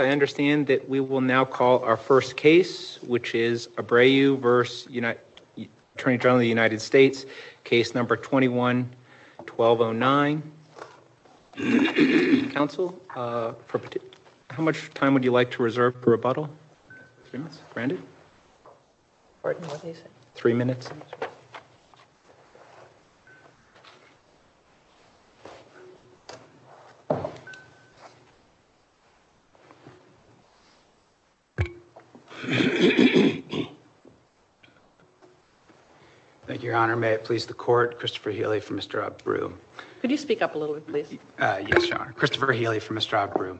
I understand that we will now call our first case, which is Abreu v. Attorney General of the United States, case number 21-1209. Counsel, how much time would you like to reserve for rebuttal? Three minutes. Randy? Pardon, what did he say? Three minutes. Thank you, Your Honor. May it please the Court, Christopher Healy for Mr. Abreu. Could you speak up a little bit, please? Yes, Your Honor. Christopher Healy for Mr. Abreu.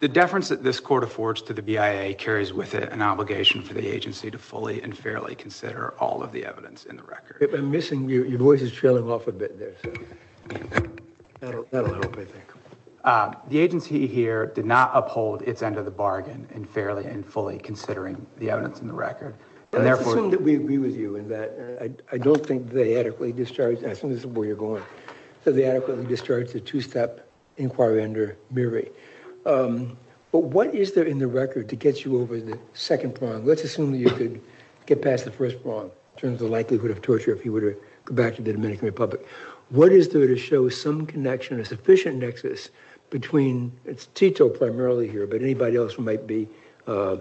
The deference that this Court affords to the BIA carries with it an obligation for the agency to fully and fairly consider all of the evidence in the record. I'm missing you. Your voice is trailing off a bit there. The agency here did not uphold its end of the bargain in fairly and fully considering the evidence in the record. Let's assume that we agree with you in that. I don't think they adequately discharged the two-step inquiry under Mirri. But what is there in the record to get you over the second prong? Let's assume that you could get past the first prong in terms of the likelihood of torture if you were to go back to the Dominican Republic. What is there to show some connection, a sufficient nexus between, it's Tito primarily here, but anybody else who might be a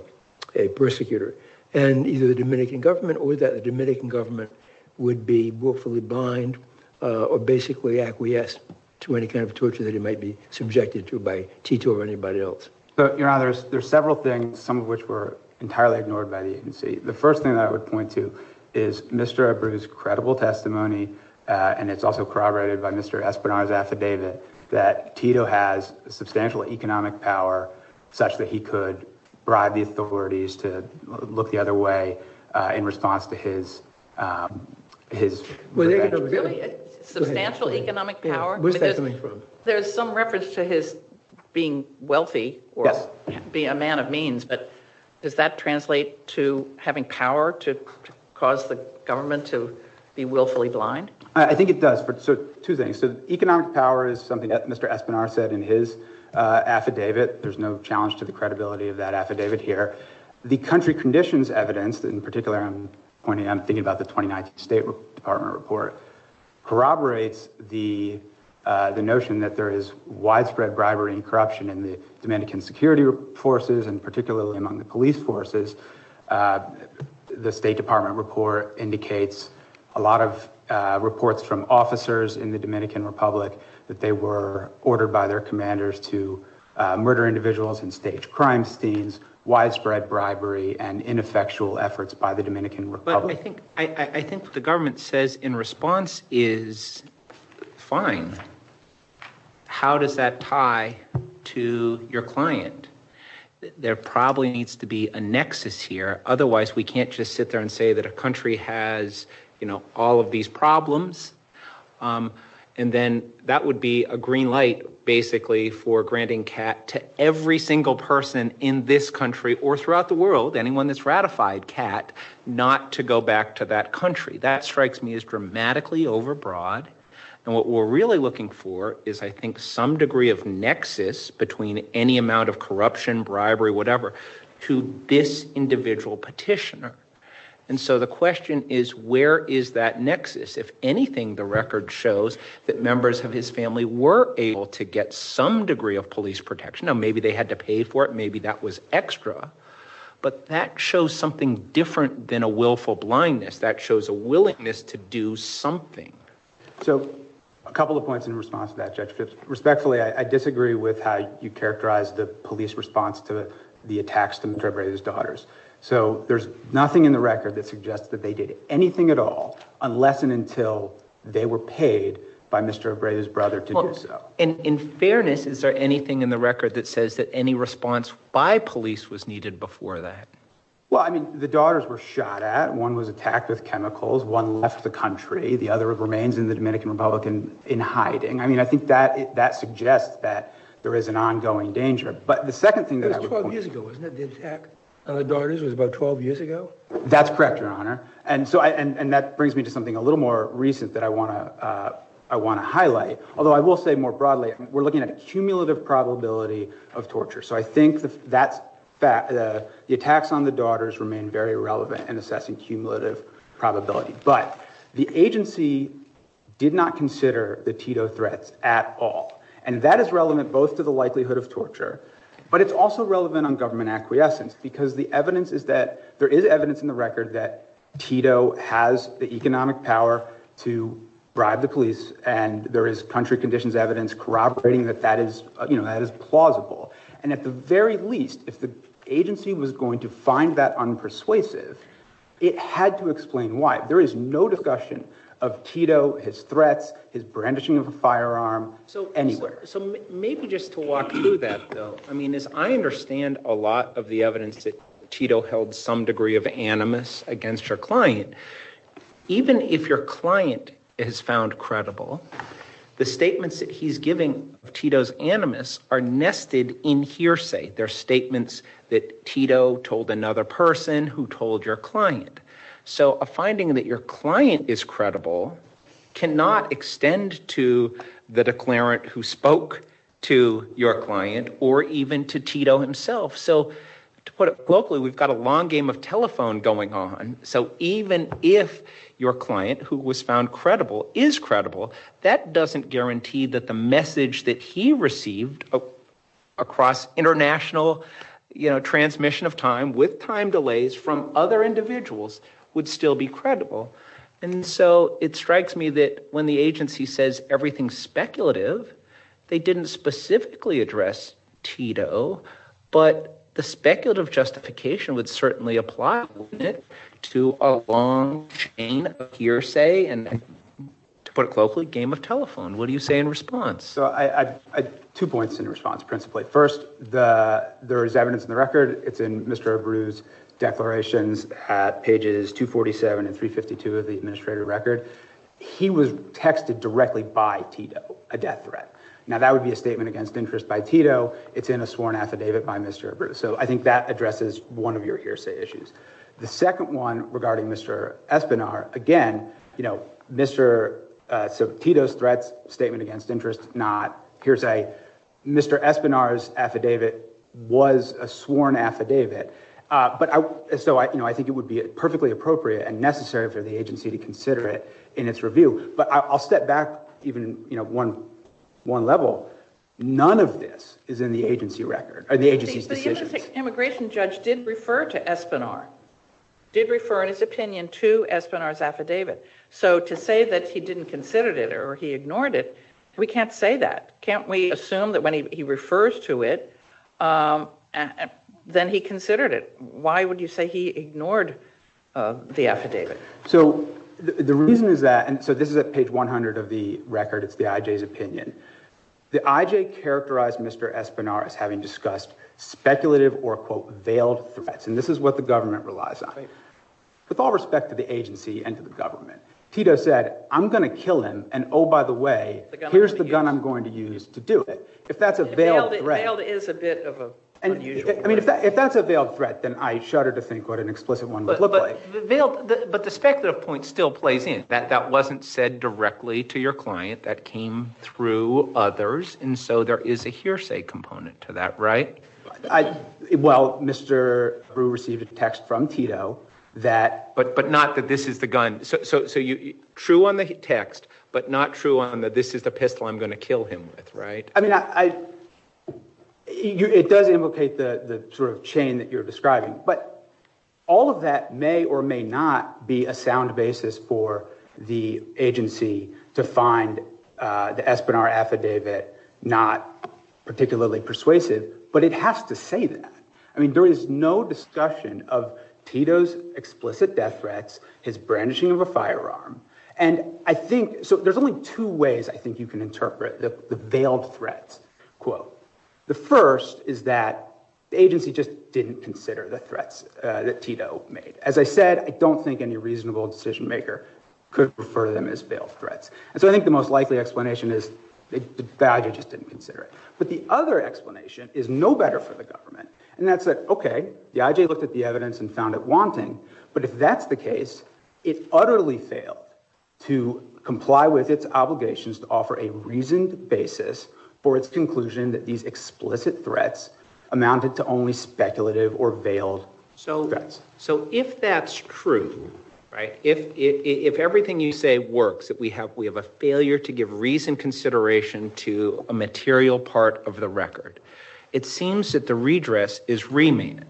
persecutor? And either the Dominican government or that the Dominican government would be willfully blind or basically acquiesced to any kind of torture that it might be subjected to by Tito or anybody else. Your Honor, there's several things, some of which were entirely ignored by the agency. The first thing that I would point to is Mr. Abreu's credible testimony, and it's also corroborated by Mr. Espinosa's affidavit, that Tito has substantial economic power such that he could bribe the authorities to look the other way in response to his… Really? Substantial economic power? Where's that coming from? There's some reference to his being wealthy or being a man of means, but does that translate to having power to cause the government to be willfully blind? I think it does for two things. So economic power is something that Mr. Espinosa said in his affidavit. There's no challenge to the credibility of that affidavit here. The country conditions evidence, in particular I'm thinking about the 2019 State Department report, corroborates the notion that there is widespread bribery and corruption in the Dominican security forces and particularly among the police forces. The State Department report indicates a lot of reports from officers in the Dominican Republic that they were ordered by their commanders to murder individuals and stage crime scenes, widespread bribery, and ineffectual efforts by the Dominican Republic. But I think the government says in response is fine. How does that tie to your client? There probably needs to be a nexus here. Otherwise we can't just sit there and say that a country has all of these problems. And then that would be a green light basically for granting CAT to every single person in this country or throughout the world, anyone that's ratified CAT, not to go back to that country. That strikes me as dramatically overbroad. And what we're really looking for is I think some degree of nexus between any amount of corruption, bribery, whatever, to this individual petitioner. And so the question is where is that nexus? If anything, the record shows that members of his family were able to get some degree of police protection. Now maybe they had to pay for it. Maybe that was extra. But that shows something different than a willful blindness. That shows a willingness to do something. So a couple of points in response to that, Judge Phipps. Respectfully, I disagree with how you characterize the police response to the attacks to Mr. Abreu's daughters. So there's nothing in the record that suggests that they did anything at all unless and until they were paid by Mr. Abreu's brother to do so. In fairness, is there anything in the record that says that any response by police was needed before that? Well, I mean, the daughters were shot at. One was attacked with chemicals. One left the country. The other remains in the Dominican Republic in hiding. I mean, I think that suggests that there is an ongoing danger. But the second thing that I would point to— It was 12 years ago, wasn't it? The attack on the daughters was about 12 years ago? That's correct, Your Honor. And that brings me to something a little more recent that I want to highlight. Although I will say more broadly we're looking at a cumulative probability of torture. So I think the attacks on the daughters remain very relevant in assessing cumulative probability. But the agency did not consider the Tito threats at all. And that is relevant both to the likelihood of torture, but it's also relevant on government acquiescence. Because the evidence is that there is evidence in the record that Tito has the economic power to bribe the police. And there is country conditions evidence corroborating that that is plausible. And at the very least, if the agency was going to find that unpersuasive, it had to explain why. There is no discussion of Tito, his threats, his brandishing of a firearm anywhere. So maybe just to walk through that, though. I mean, as I understand a lot of the evidence that Tito held some degree of animus against your client, even if your client is found credible, the statements that he's giving of Tito's animus are nested in hearsay. They're statements that Tito told another person who told your client. So a finding that your client is credible cannot extend to the declarant who spoke to your client or even to Tito himself. So to put it blockly, we've got a long game of telephone going on. So even if your client, who was found credible, is credible, that doesn't guarantee that the message that he received across international transmission of time with time delays from other individuals would still be credible. And so it strikes me that when the agency says everything's speculative, they didn't specifically address Tito. But the speculative justification would certainly apply to a long chain of hearsay. And to put it locally, game of telephone. What do you say in response? So I have two points in response principally. First, there is evidence in the record. It's in Mr. Abreu's declarations at pages 247 and 352 of the administrative record. He was texted directly by Tito, a death threat. Now, that would be a statement against interest by Tito. It's in a sworn affidavit by Mr. Abreu. So I think that addresses one of your hearsay issues. The second one regarding Mr. Espinar, again, you know, Mr. Tito's threats, statement against interest, not. Here's a Mr. Espinar's affidavit was a sworn affidavit. So, you know, I think it would be perfectly appropriate and necessary for the agency to consider it in its review. But I'll step back even, you know, one level. None of this is in the agency's decisions. The immigration judge did refer to Espinar, did refer in his opinion to Espinar's affidavit. So to say that he didn't consider it or he ignored it, we can't say that. Can't we assume that when he refers to it, then he considered it? Why would you say he ignored the affidavit? So the reason is that—and so this is at page 100 of the record. It's the IJ's opinion. The IJ characterized Mr. Espinar as having discussed speculative or, quote, veiled threats. And this is what the government relies on. With all respect to the agency and to the government, Tito said, I'm going to kill him. And, oh, by the way, here's the gun I'm going to use to do it. If that's a veiled threat— Veiled is a bit of an unusual word. I mean, if that's a veiled threat, then I shudder to think what an explicit one would look like. Veiled—but the speculative point still plays in. That wasn't said directly to your client. That came through others. And so there is a hearsay component to that, right? Well, Mr. Brewer received a text from Tito that— But not that this is the gun. So true on the text, but not true on the this is the pistol I'm going to kill him with, right? I mean, I—it does implicate the sort of chain that you're describing. But all of that may or may not be a sound basis for the agency to find the Espinar affidavit not particularly persuasive. But it has to say that. I mean, there is no discussion of Tito's explicit death threats, his brandishing of a firearm. And I think—so there's only two ways I think you can interpret the veiled threats quote. The first is that the agency just didn't consider the threats that Tito made. As I said, I don't think any reasonable decision-maker could refer to them as veiled threats. And so I think the most likely explanation is the IJ just didn't consider it. But the other explanation is no better for the government. And that's that, okay, the IJ looked at the evidence and found it wanting. But if that's the case, it utterly failed to comply with its obligations to offer a reasoned basis for its conclusion that these explicit threats amounted to only speculative or veiled threats. So if that's true, right, if everything you say works, that we have a failure to give reasoned consideration to a material part of the record, it seems that the redress is remanded.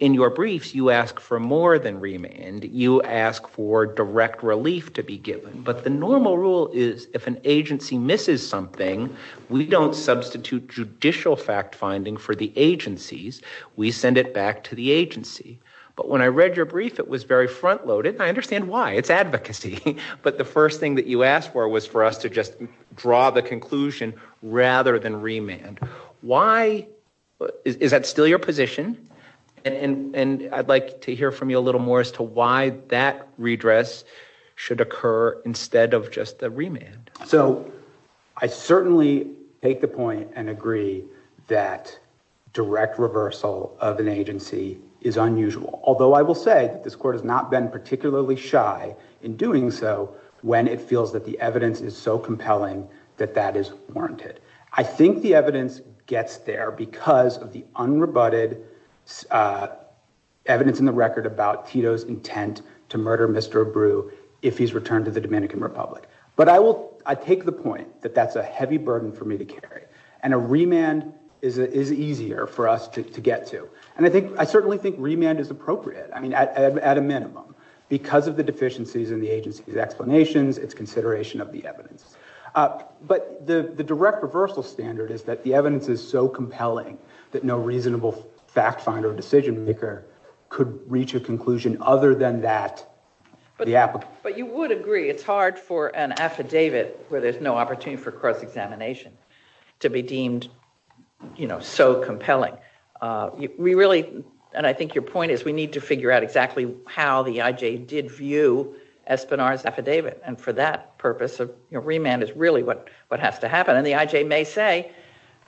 In your briefs, you ask for more than remand. You ask for direct relief to be given. But the normal rule is if an agency misses something, we don't substitute judicial fact-finding for the agencies. We send it back to the agency. But when I read your brief, it was very front-loaded, and I understand why. It's advocacy. But the first thing that you asked for was for us to just draw the conclusion rather than remand. Is that still your position? And I'd like to hear from you a little more as to why that redress should occur instead of just the remand. So I certainly take the point and agree that direct reversal of an agency is unusual. Although I will say that this court has not been particularly shy in doing so when it feels that the evidence is so compelling that that is warranted. I think the evidence gets there because of the unrebutted evidence in the record about Tito's intent to murder Mr. Abreu if he's returned to the Dominican Republic. But I take the point that that's a heavy burden for me to carry, and a remand is easier for us to get to. And I certainly think remand is appropriate, I mean, at a minimum, because of the deficiencies in the agency's explanations, its consideration of the evidence. But the direct reversal standard is that the evidence is so compelling that no reasonable fact finder or decision maker could reach a conclusion other than that. But you would agree it's hard for an affidavit where there's no opportunity for cross-examination to be deemed so compelling. We really, and I think your point is, we need to figure out exactly how the IJ did view Espinar's affidavit. And for that purpose, a remand is really what has to happen. And the IJ may say,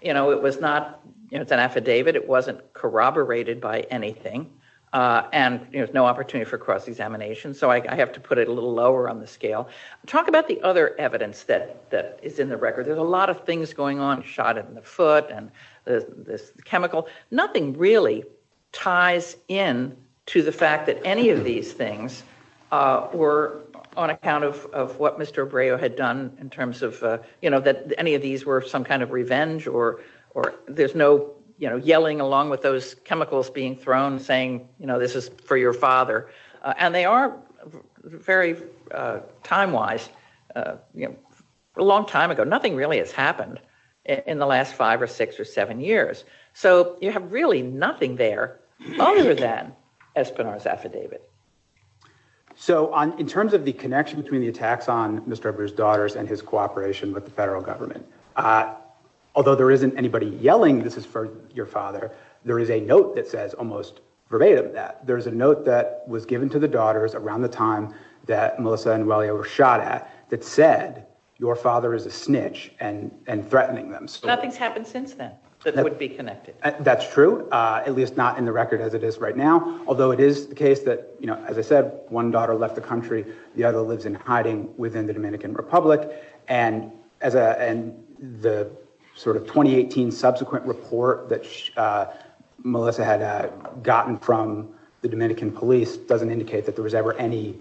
you know, it's an affidavit, it wasn't corroborated by anything, and there's no opportunity for cross-examination. So I have to put it a little lower on the scale. Talk about the other evidence that is in the record. There's a lot of things going on, shot in the foot, and this chemical. Nothing really ties in to the fact that any of these things were on account of what Mr. Abreu had done in terms of, you know, that any of these were some kind of revenge, or there's no, you know, yelling along with those chemicals being thrown saying, you know, this is for your father. And they are very time-wise, you know, a long time ago. Nothing really has happened in the last five or six or seven years. So you have really nothing there other than Espinar's affidavit. So in terms of the connection between the attacks on Mr. Abreu's daughters and his cooperation with the federal government, although there isn't anybody yelling this is for your father, there is a note that says almost verbatim that. There is a note that was given to the daughters around the time that Melissa and Wally were shot at that said, your father is a snitch and threatening them. Nothing's happened since then that would be connected. That's true, at least not in the record as it is right now. Although it is the case that, you know, as I said, one daughter left the country, the other lives in hiding within the Dominican Republic. And the sort of 2018 subsequent report that Melissa had gotten from the Dominican police doesn't indicate that there was ever any,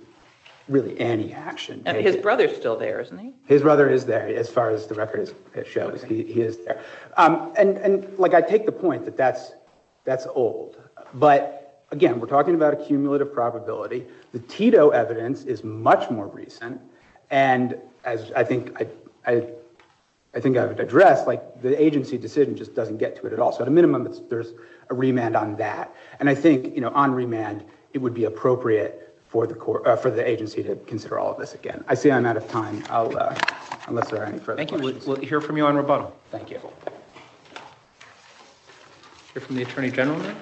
really any action. And his brother's still there, isn't he? His brother is there as far as the record shows. He is there. And like I take the point that that's old. But again, we're talking about a cumulative probability. The Tito evidence is much more recent. And as I think I've addressed, like the agency decision just doesn't get to it at all. So at a minimum, there's a remand on that. And I think, you know, on remand, it would be appropriate for the agency to consider all of this again. I see I'm out of time, unless there are any further questions. Thank you. We'll hear from you on rebuttal. Thank you. We'll hear from the Attorney General now.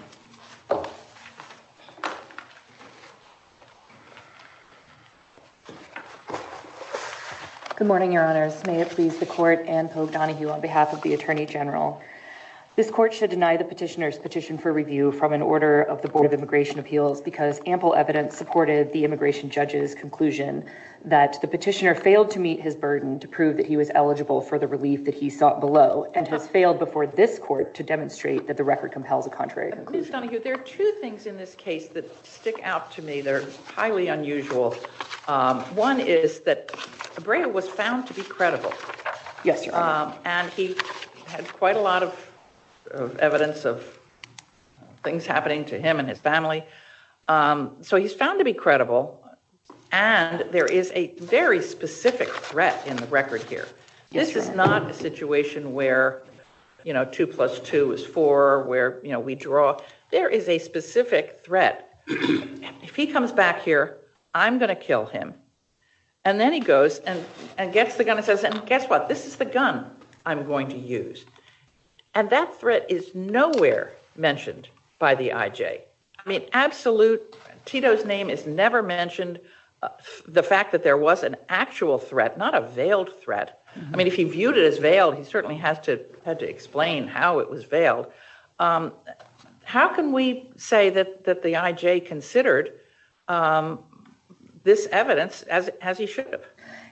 Good morning, Your Honors. May it please the court, Anne Pogue Donahue on behalf of the Attorney General. This court should deny the petitioner's petition for review from an order of the Board of Immigration Appeals because ample evidence supported the immigration judge's conclusion that the petitioner failed to meet his burden to prove that he was eligible for the relief that he sought below and has failed before this court to demonstrate that the record compels a contrary conclusion. There are two things in this case that stick out to me. They're highly unusual. One is that Abreu was found to be credible. Yes, Your Honor. And he had quite a lot of evidence of things happening to him and his family. So he's found to be credible, and there is a very specific threat in the record here. This is not a situation where, you know, two plus two is four, where, you know, we draw. There is a specific threat. If he comes back here, I'm going to kill him. And then he goes and gets the gun and says, and guess what? This is the gun I'm going to use. And that threat is nowhere mentioned by the IJ. I mean, absolute, Tito's name is never mentioned. The fact that there was an actual threat, not a veiled threat. I mean, if he viewed it as veiled, he certainly had to explain how it was veiled. How can we say that the IJ considered this evidence as he should have?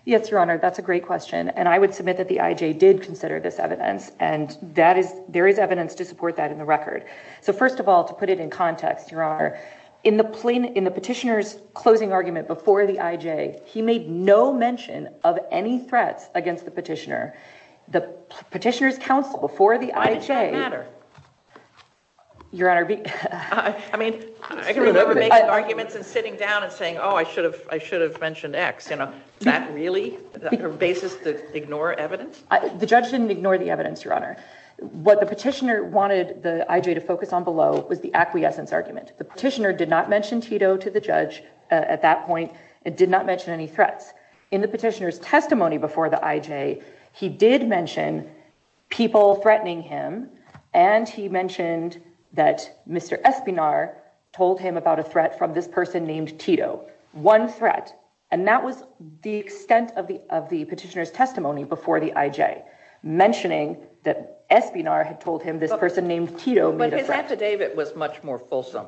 Yes, Your Honor, that's a great question. And I would submit that the IJ did consider this evidence. And there is evidence to support that in the record. So first of all, to put it in context, Your Honor, in the petitioner's closing argument before the IJ, he made no mention of any threats against the petitioner. The petitioner's counsel before the IJ... Why did that matter? Your Honor... I mean, I can remember making arguments and sitting down and saying, oh, I should have mentioned X. You know, is that really the basis to ignore evidence? The judge didn't ignore the evidence, Your Honor. What the petitioner wanted the IJ to focus on below was the acquiescence argument. The petitioner did not mention Tito to the judge at that point. It did not mention any threats. In the petitioner's testimony before the IJ, he did mention people threatening him, and he mentioned that Mr. Espinar told him about a threat from this person named Tito. One threat. And that was the extent of the petitioner's testimony before the IJ, mentioning that Espinar had told him this person named Tito made a threat. But his affidavit was much more fulsome.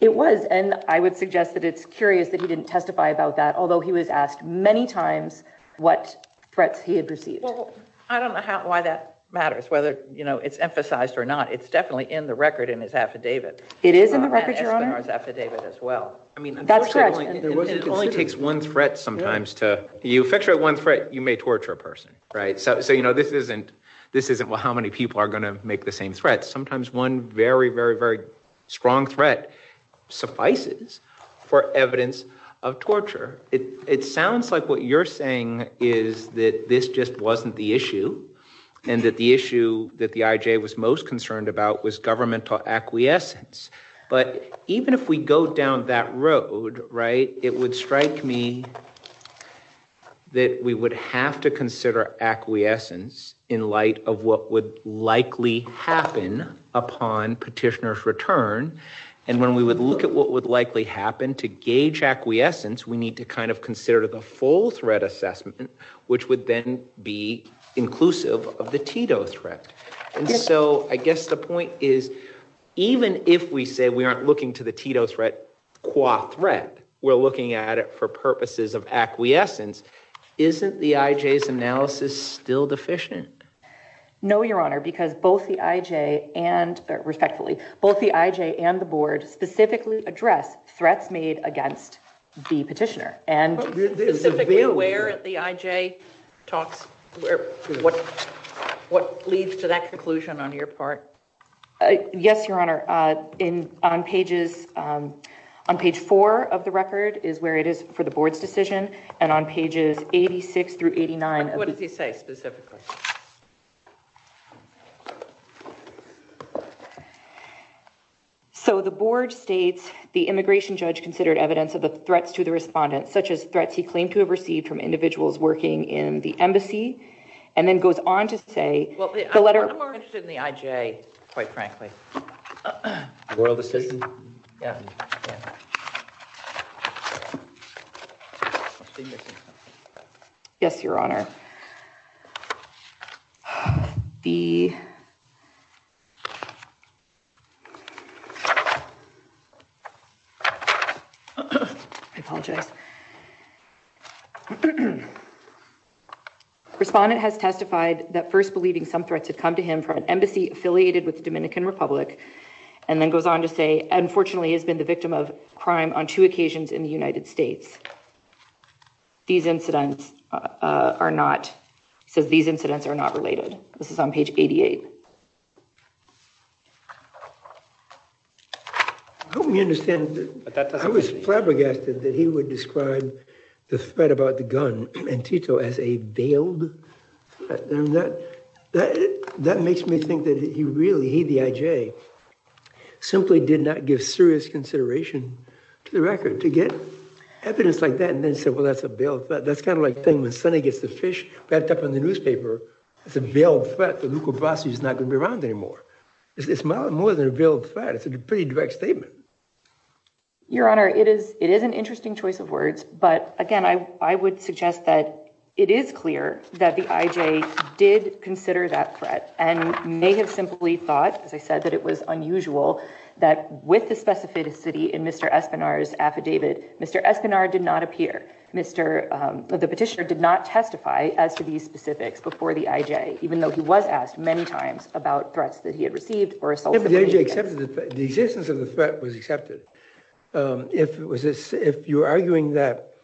It was, and I would suggest that it's curious that he didn't testify about that, although he was asked many times what threats he had received. Well, I don't know why that matters, whether, you know, it's emphasized or not. It's definitely in the record in his affidavit. It is in the record, Your Honor. And in Espinar's affidavit as well. That's correct. It only takes one threat sometimes to, you effectuate one threat, you may torture a person, right? So, you know, this isn't how many people are going to make the same threat. Sometimes one very, very, very strong threat suffices for evidence of torture. It sounds like what you're saying is that this just wasn't the issue and that the issue that the IJ was most concerned about was governmental acquiescence. But even if we go down that road, right, it would strike me that we would have to consider acquiescence in light of what would likely happen upon petitioner's return. And when we would look at what would likely happen to gauge acquiescence, we need to kind of consider the full threat assessment, which would then be inclusive of the Tito threat. And so I guess the point is, even if we say we aren't looking to the Tito threat qua threat, we're looking at it for purposes of acquiescence, isn't the IJ's analysis still deficient? No, Your Honor, because both the IJ and, respectfully, both the IJ and the board specifically address threats made against the petitioner. And specifically where the IJ talks, what leads to that conclusion on your part? Yes, Your Honor. On page four of the record is where it is for the board's decision. And on pages 86 through 89. What does he say specifically? So the board states the immigration judge considered evidence of the threats to the respondent, such as threats he claimed to have received from individuals working in the embassy, and then goes on to say the letter... I'm more interested in the IJ, quite frankly. Yes, Your Honor. The... I apologize. Respondent has testified that first believing some threats had come to him from an embassy affiliated with the Dominican Republic, and then goes on to say, unfortunately, has been the victim of crime on two occasions in the United States. These incidents are not... He says these incidents are not related. This is on page 88. I hope you understand that I was flabbergasted that he would discuss and describe the threat about the gun and Tito as a veiled threat. That makes me think that he really, he, the IJ, simply did not give serious consideration to the record. To get evidence like that and then say, well, that's a veiled threat. That's kind of like saying when Sonny gets the fish wrapped up in the newspaper, it's a veiled threat that Luca Brasi is not going to be around anymore. It's more than a veiled threat. It's a pretty direct statement. Your Honor, it is an interesting choice of words. But again, I would suggest that it is clear that the IJ did consider that threat and may have simply thought, as I said, that it was unusual that with the specificity in Mr. Espinar's affidavit, Mr. Espinar did not appear. The petitioner did not testify as to these specifics before the IJ, even though he was asked many times about threats that he had received. The existence of the threat was accepted. If you're arguing that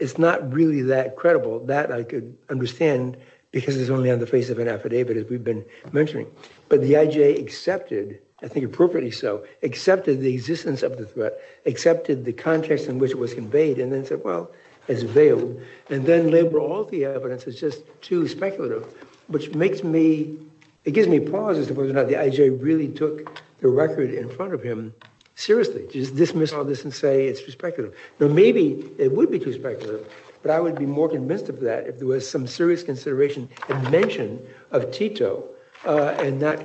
it's not really that credible, that I could understand because it's only on the face of an affidavit, as we've been mentioning. But the IJ accepted, I think appropriately so, accepted the existence of the threat, accepted the context in which it was conveyed, and then said, well, it's veiled. And then labeled all the evidence as just too speculative, which makes me, it gives me pause as to whether or not the IJ really took the record in front of him seriously. Just dismiss all this and say it's too speculative. Now, maybe it would be too speculative, but I would be more convinced of that if there was some serious consideration and mention of Tito and not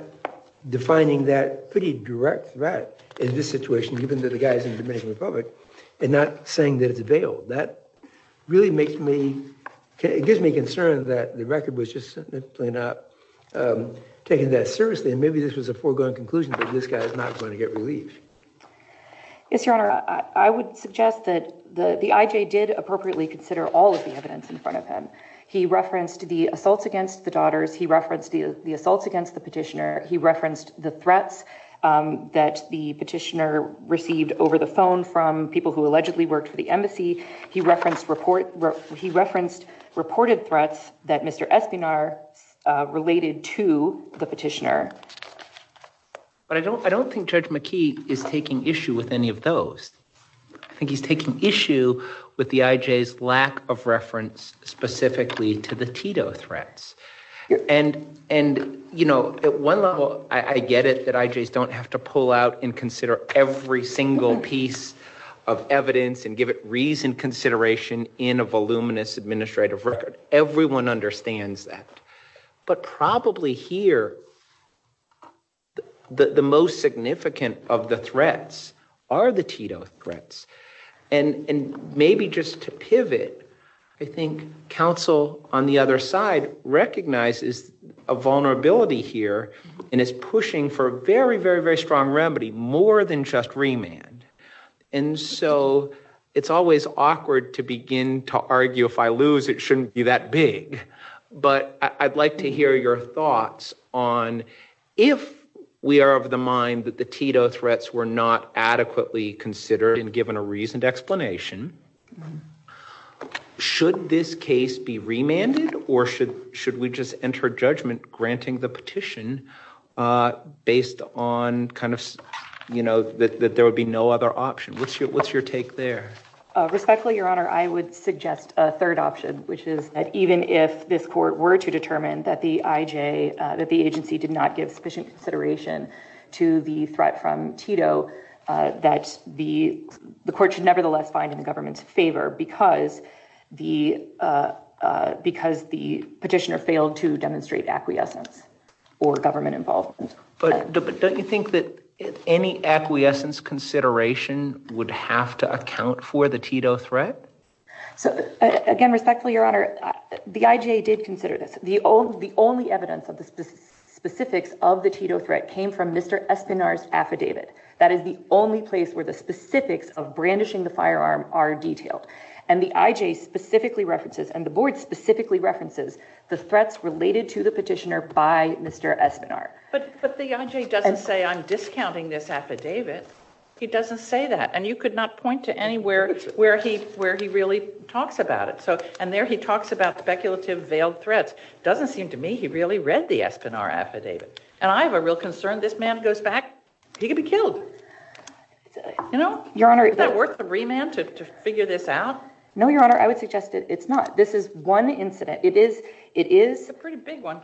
defining that pretty direct threat in this situation, even to the guys in the Dominican Republic, and not saying that it's veiled. That really makes me, it gives me concern that the record was just simply not taking that seriously, and maybe this was a foregone conclusion that this guy is not going to get relief. Yes, Your Honor. I would suggest that the IJ did appropriately consider all of the evidence in front of him. He referenced the assaults against the daughters. He referenced the assaults against the petitioner. He referenced the threats that the petitioner received over the phone from people who allegedly worked for the embassy. He referenced reported threats that Mr. Espinar related to the petitioner. But I don't think Judge McKee is taking issue with any of those. I think he's taking issue with the IJ's lack of reference specifically to the Tito threats. And, you know, at one level, I get it that IJs don't have to pull out and consider every single piece of evidence and give it reasoned consideration in a voluminous administrative record. Everyone understands that. But probably here, the most significant of the threats are the Tito threats. And maybe just to pivot, I think counsel on the other side recognizes a vulnerability here and is pushing for a very, very, very strong remedy more than just remand. And so it's always awkward to begin to argue if I lose, it shouldn't be that big. But I'd like to hear your thoughts on if we are of the mind that the Tito threats were not adequately considered and given a reasoned explanation, should this case be remanded or should we just enter judgment granting the petition based on kind of, you know, that there would be no other option? What's your take there? Respectfully, Your Honor, I would suggest a third option, which is that even if this court were to determine that the IJ, that the agency did not give sufficient consideration to the threat from Tito, that the court should nevertheless find in the government's favor because the petitioner failed to demonstrate acquiescence or government involvement. But don't you think that any acquiescence consideration would have to account for the Tito threat? So again, respectfully, Your Honor, the IJ did consider this. The only evidence of the specifics of the Tito threat came from Mr. Espinar's affidavit. That is the only place where the specifics of brandishing the firearm are detailed. And the IJ specifically references and the board specifically references the threats related to the petitioner by Mr. Espinar. But the IJ doesn't say, I'm discounting this affidavit. He doesn't say that. And you could not point to anywhere where he really talks about it. And there he talks about speculative veiled threats. Doesn't seem to me he really read the Espinar affidavit. And I have a real concern this man goes back, he could be killed. You know? Isn't that worth the remand to figure this out? No, Your Honor, I would suggest it's not. This is one incident. It is a pretty big one.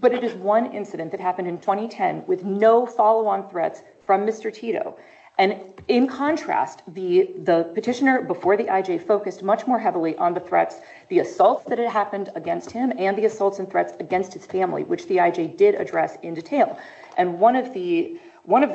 But it is one incident that happened in 2010 with no follow-on threats from Mr. Tito. And in contrast, the petitioner before the IJ focused much more heavily on the threats, the assaults that had happened against him and the assaults and threats against his family, which the IJ did address in detail. And one of the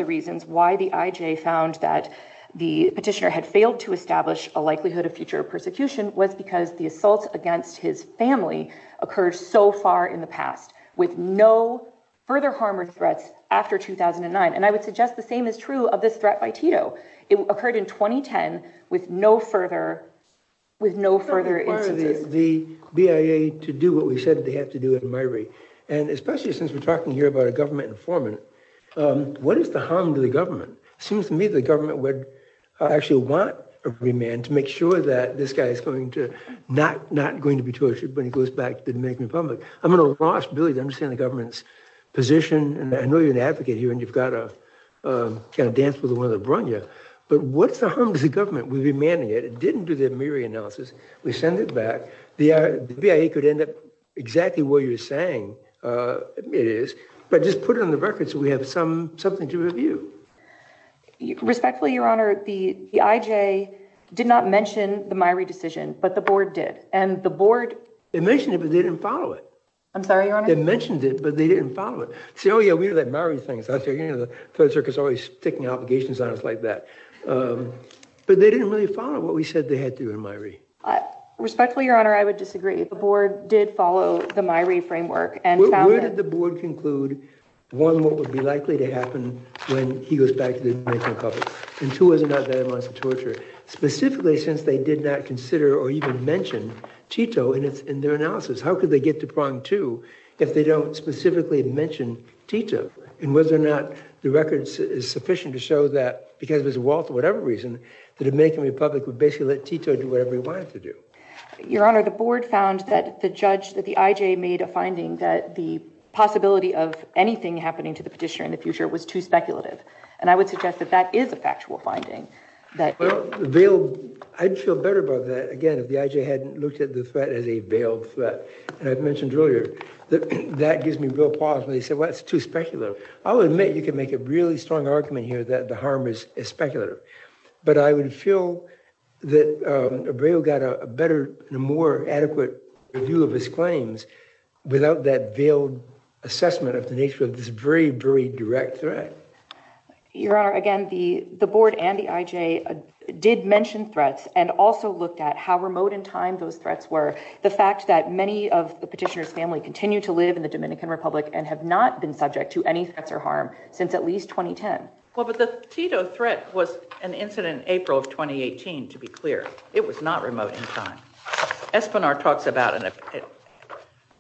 reasons why the IJ found that the petitioner had failed to establish a likelihood of future persecution was because the assaults against his family occurred so far in the past with no further harm or threats after 2009. And I would suggest the same is true of this threat by Tito. It occurred in 2010 with no further instances. Why are the BIA to do what we said they have to do in my rate? And especially since we're talking here about a government informant, what is the harm to the government? It seems to me the government would actually want a remand to make sure that this guy is not going to be tortured when he goes back to the Dominican Republic. I'm at a loss really to understand the government's position. And I know you're an advocate here and you've got to kind of dance with one of the Bronya, but what's the harm to the government? We remanded it. It didn't do the MIRI analysis. We send it back. The BIA could end up exactly where you're saying it is, but just put it on the record so we have something to review. Respectfully, Your Honor, the IJ did not mention the MIRI decision, but the board did, and the board... I'm sorry, Your Honor? They mentioned it, but they didn't follow it. Oh, yeah, we know that MIRI thing. The Federal Circuit's always sticking obligations on us like that. But they didn't really follow what we said they had to do in MIRI. Respectfully, Your Honor, I would disagree. The board did follow the MIRI framework and found that... Where did the board conclude, one, what would be likely to happen when he goes back to the Dominican Republic, and two, was it not bad enough to torture it? Specifically, since they did not consider or even mention Tito in their analysis, how could they get to prong two if they don't specifically mention Tito? And whether or not the record is sufficient to show that, because of his wealth or whatever reason, the Dominican Republic would basically let Tito do whatever he wanted to do. Your Honor, the board found that the judge, that the IJ, made a finding that the possibility of anything happening to the petitioner in the future was too speculative, and I would suggest that that is a factual finding. Well, I'd feel better about that, again, if the IJ hadn't looked at the threat as a veiled threat. And I mentioned earlier that that gives me real pause when they say, well, it's too speculative. I'll admit you can make a really strong argument here that the harm is speculative, but I would feel that Abreu got a better and more adequate review of his claims without that veiled assessment of the nature of this very, very direct threat. Your Honor, again, the board and the IJ did mention threats and also looked at how remote in time those threats were. The fact that many of the petitioner's family continue to live in the Dominican Republic and have not been subject to any threats or harm since at least 2010. Well, but the Tito threat was an incident in April of 2018, to be clear. It was not remote in time. Espinar talks about a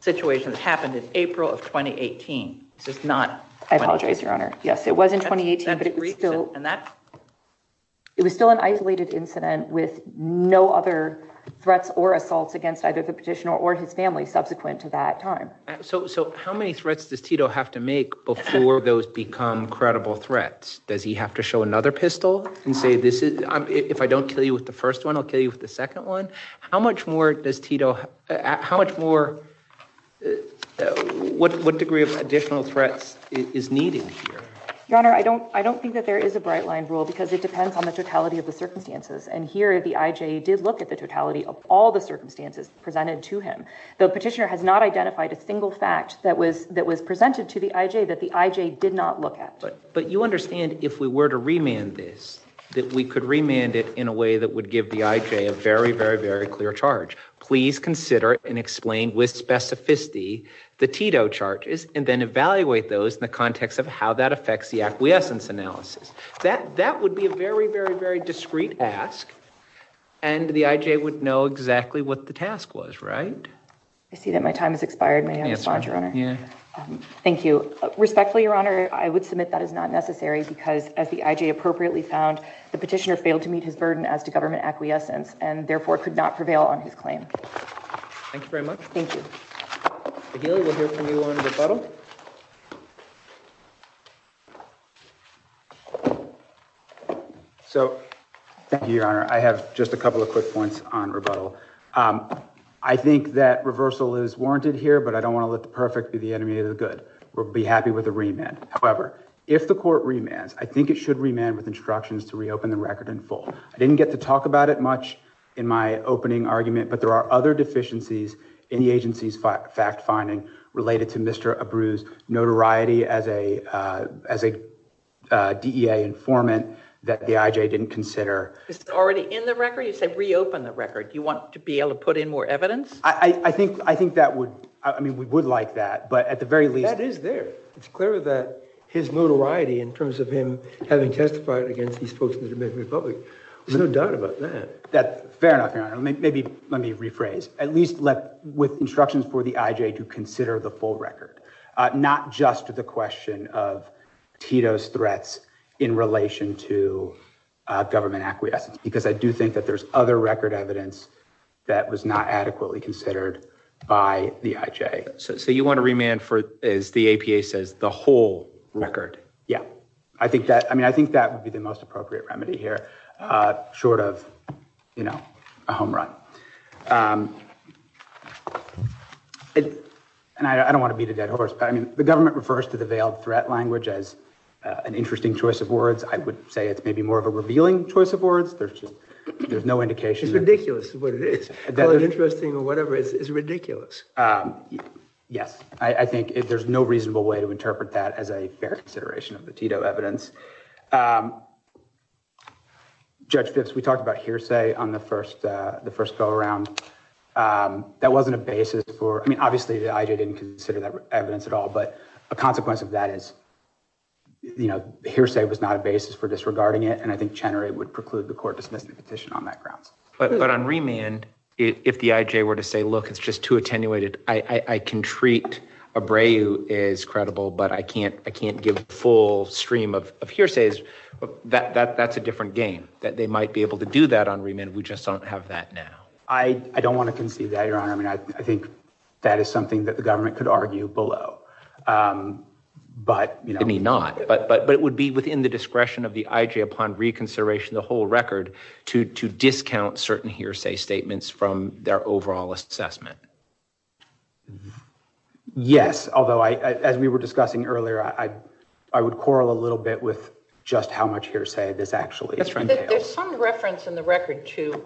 situation that happened in April of 2018. This is not 2018. I apologize, Your Honor. Yes, it was in 2018, but it was still an isolated incident with no other threats or assaults against either the petitioner or his family subsequent to that time. So how many threats does Tito have to make before those become credible threats? Does he have to show another pistol and say, if I don't kill you with the first one, I'll kill you with the second one? How much more does Tito, how much more, what degree of additional threats is needed here? Your Honor, I don't think that there is a bright line rule because it depends on the totality of the circumstances. And here the IJ did look at the totality of all the circumstances presented to him. The petitioner has not identified a single fact that was presented to the IJ that the IJ did not look at. But you understand if we were to remand this, that we could remand it in a way that would give the IJ a very, very, very clear charge. Please consider and explain with specificity the Tito charges and then evaluate those in the context of how that affects the acquiescence analysis. That would be a very, very, very discreet ask. And the IJ would know exactly what the task was, right? I see that my time has expired. May I respond, Your Honor? Thank you. Respectfully, Your Honor, I would submit that is not necessary because as the IJ appropriately found, the petitioner failed to meet his burden as to government acquiescence and therefore could not prevail on his claim. Thank you very much. Thank you. McGill, we'll hear from you on rebuttal. So, thank you, Your Honor. I have just a couple of quick points on rebuttal. I think that reversal is warranted here, but I don't want to let the perfect be the enemy of the good. We'll be happy with a remand. However, if the court remands, I think it should remand with instructions to reopen the record in full. I didn't get to talk about it much in my opening argument, but there are other deficiencies in the agency's fact-finding related to Mr. Abreu's notoriety as a DEA informant that the IJ didn't consider. Is it already in the record? You said reopen the record. Do you want to be able to put in more evidence? I think that would – I mean, we would like that, but at the very least – That is there. It's clear that his notoriety in terms of him having testified against these folks in the Dominican Republic. There's no doubt about that. Fair enough, Your Honor. Let me rephrase. At least with instructions for the IJ to consider the full record, not just the question of Tito's threats in relation to government acquiescence, because I do think that there's other record evidence that was not adequately considered by the IJ. So you want to remand for, as the APA says, the whole record? Yeah. I mean, I think that would be the most appropriate remedy here, short of, you know, a home run. And I don't want to beat a dead horse, but, I mean, the government refers to the veiled threat language as an interesting choice of words. I would say it's maybe more of a revealing choice of words. There's just – there's no indication. It's ridiculous what it is. Call it interesting or whatever. It's ridiculous. Yes. I think there's no reasonable way to interpret that as a fair consideration of the Tito evidence. Judge Phipps, we talked about hearsay on the first go-around. That wasn't a basis for – I mean, obviously the IJ didn't consider that evidence at all, but a consequence of that is, you know, hearsay was not a basis for disregarding it, and I think Chenery would preclude the court dismissing the petition on that grounds. But on remand, if the IJ were to say, look, it's just too attenuated, I can treat Abreu as credible, but I can't give a full stream of hearsays, that's a different game, that they might be able to do that on remand. We just don't have that now. I don't want to concede that, Your Honor. I mean, I think that is something that the government could argue below. But, you know – I mean, not – but it would be within the discretion of the IJ upon reconsideration of the whole record to discount certain hearsay statements from their overall assessment. Yes, although, as we were discussing earlier, I would quarrel a little bit with just how much hearsay this actually is. There's some reference in the record to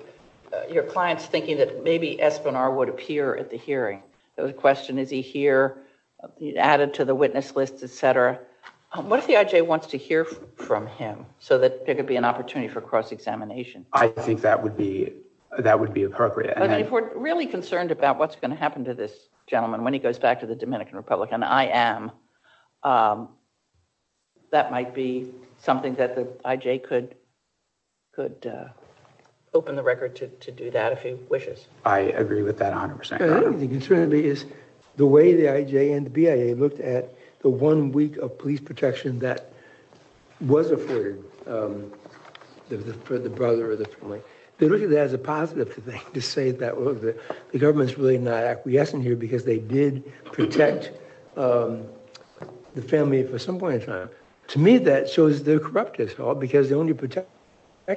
your clients thinking that maybe Espinar would appear at the hearing. The question, is he here, added to the witness list, et cetera. What if the IJ wants to hear from him so that there could be an opportunity for cross-examination? I think that would be appropriate. But if we're really concerned about what's going to happen to this gentleman when he goes back to the Dominican Republic, and I am, that might be something that the IJ could open the record to do that, if he wishes. I agree with that 100%. I think the concern is the way the IJ and the BIA looked at the one week of police protection that was afforded for the brother or the family. They looked at that as a positive thing to say that, well, the government's really not acquiescing here because they did protect the family for some point in time. To me, that shows they're corrupt as hell because they only protected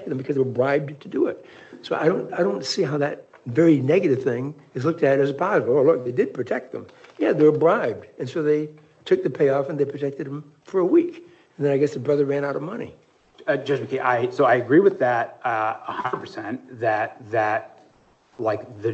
them because they were bribed to do it. So I don't see how that very negative thing is looked at as a positive. Oh, look, they did protect them. Yeah, they were bribed. And so they took the payoff and they protected them for a week. And then I guess the brother ran out of money. Judge McKee, so I agree with that 100% that the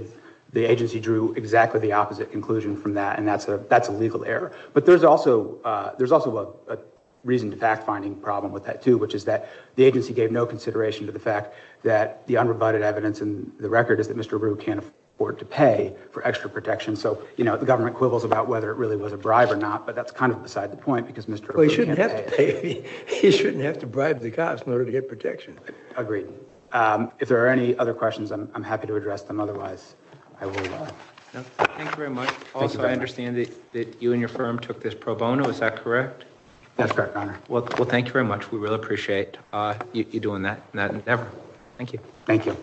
agency drew exactly the opposite conclusion from that, and that's a legal error. But there's also a reason to fact-finding problem with that too, which is that the agency gave no consideration to the fact that the unrebutted evidence in the record is that Mr. Arrue can't afford to pay for extra protection. So the government quibbles about whether it really was a bribe or not, but that's kind of beside the point because Mr. Arrue can't pay. Well, he shouldn't have to pay. He shouldn't have to bribe the cops in order to get protection. Agreed. If there are any other questions, I'm happy to address them. Otherwise, I will leave. Thank you very much. Also, I understand that you and your firm took this pro bono. Is that correct? That's correct, Your Honor. Well, thank you very much. We really appreciate you doing that endeavor. Thank you. Thank you.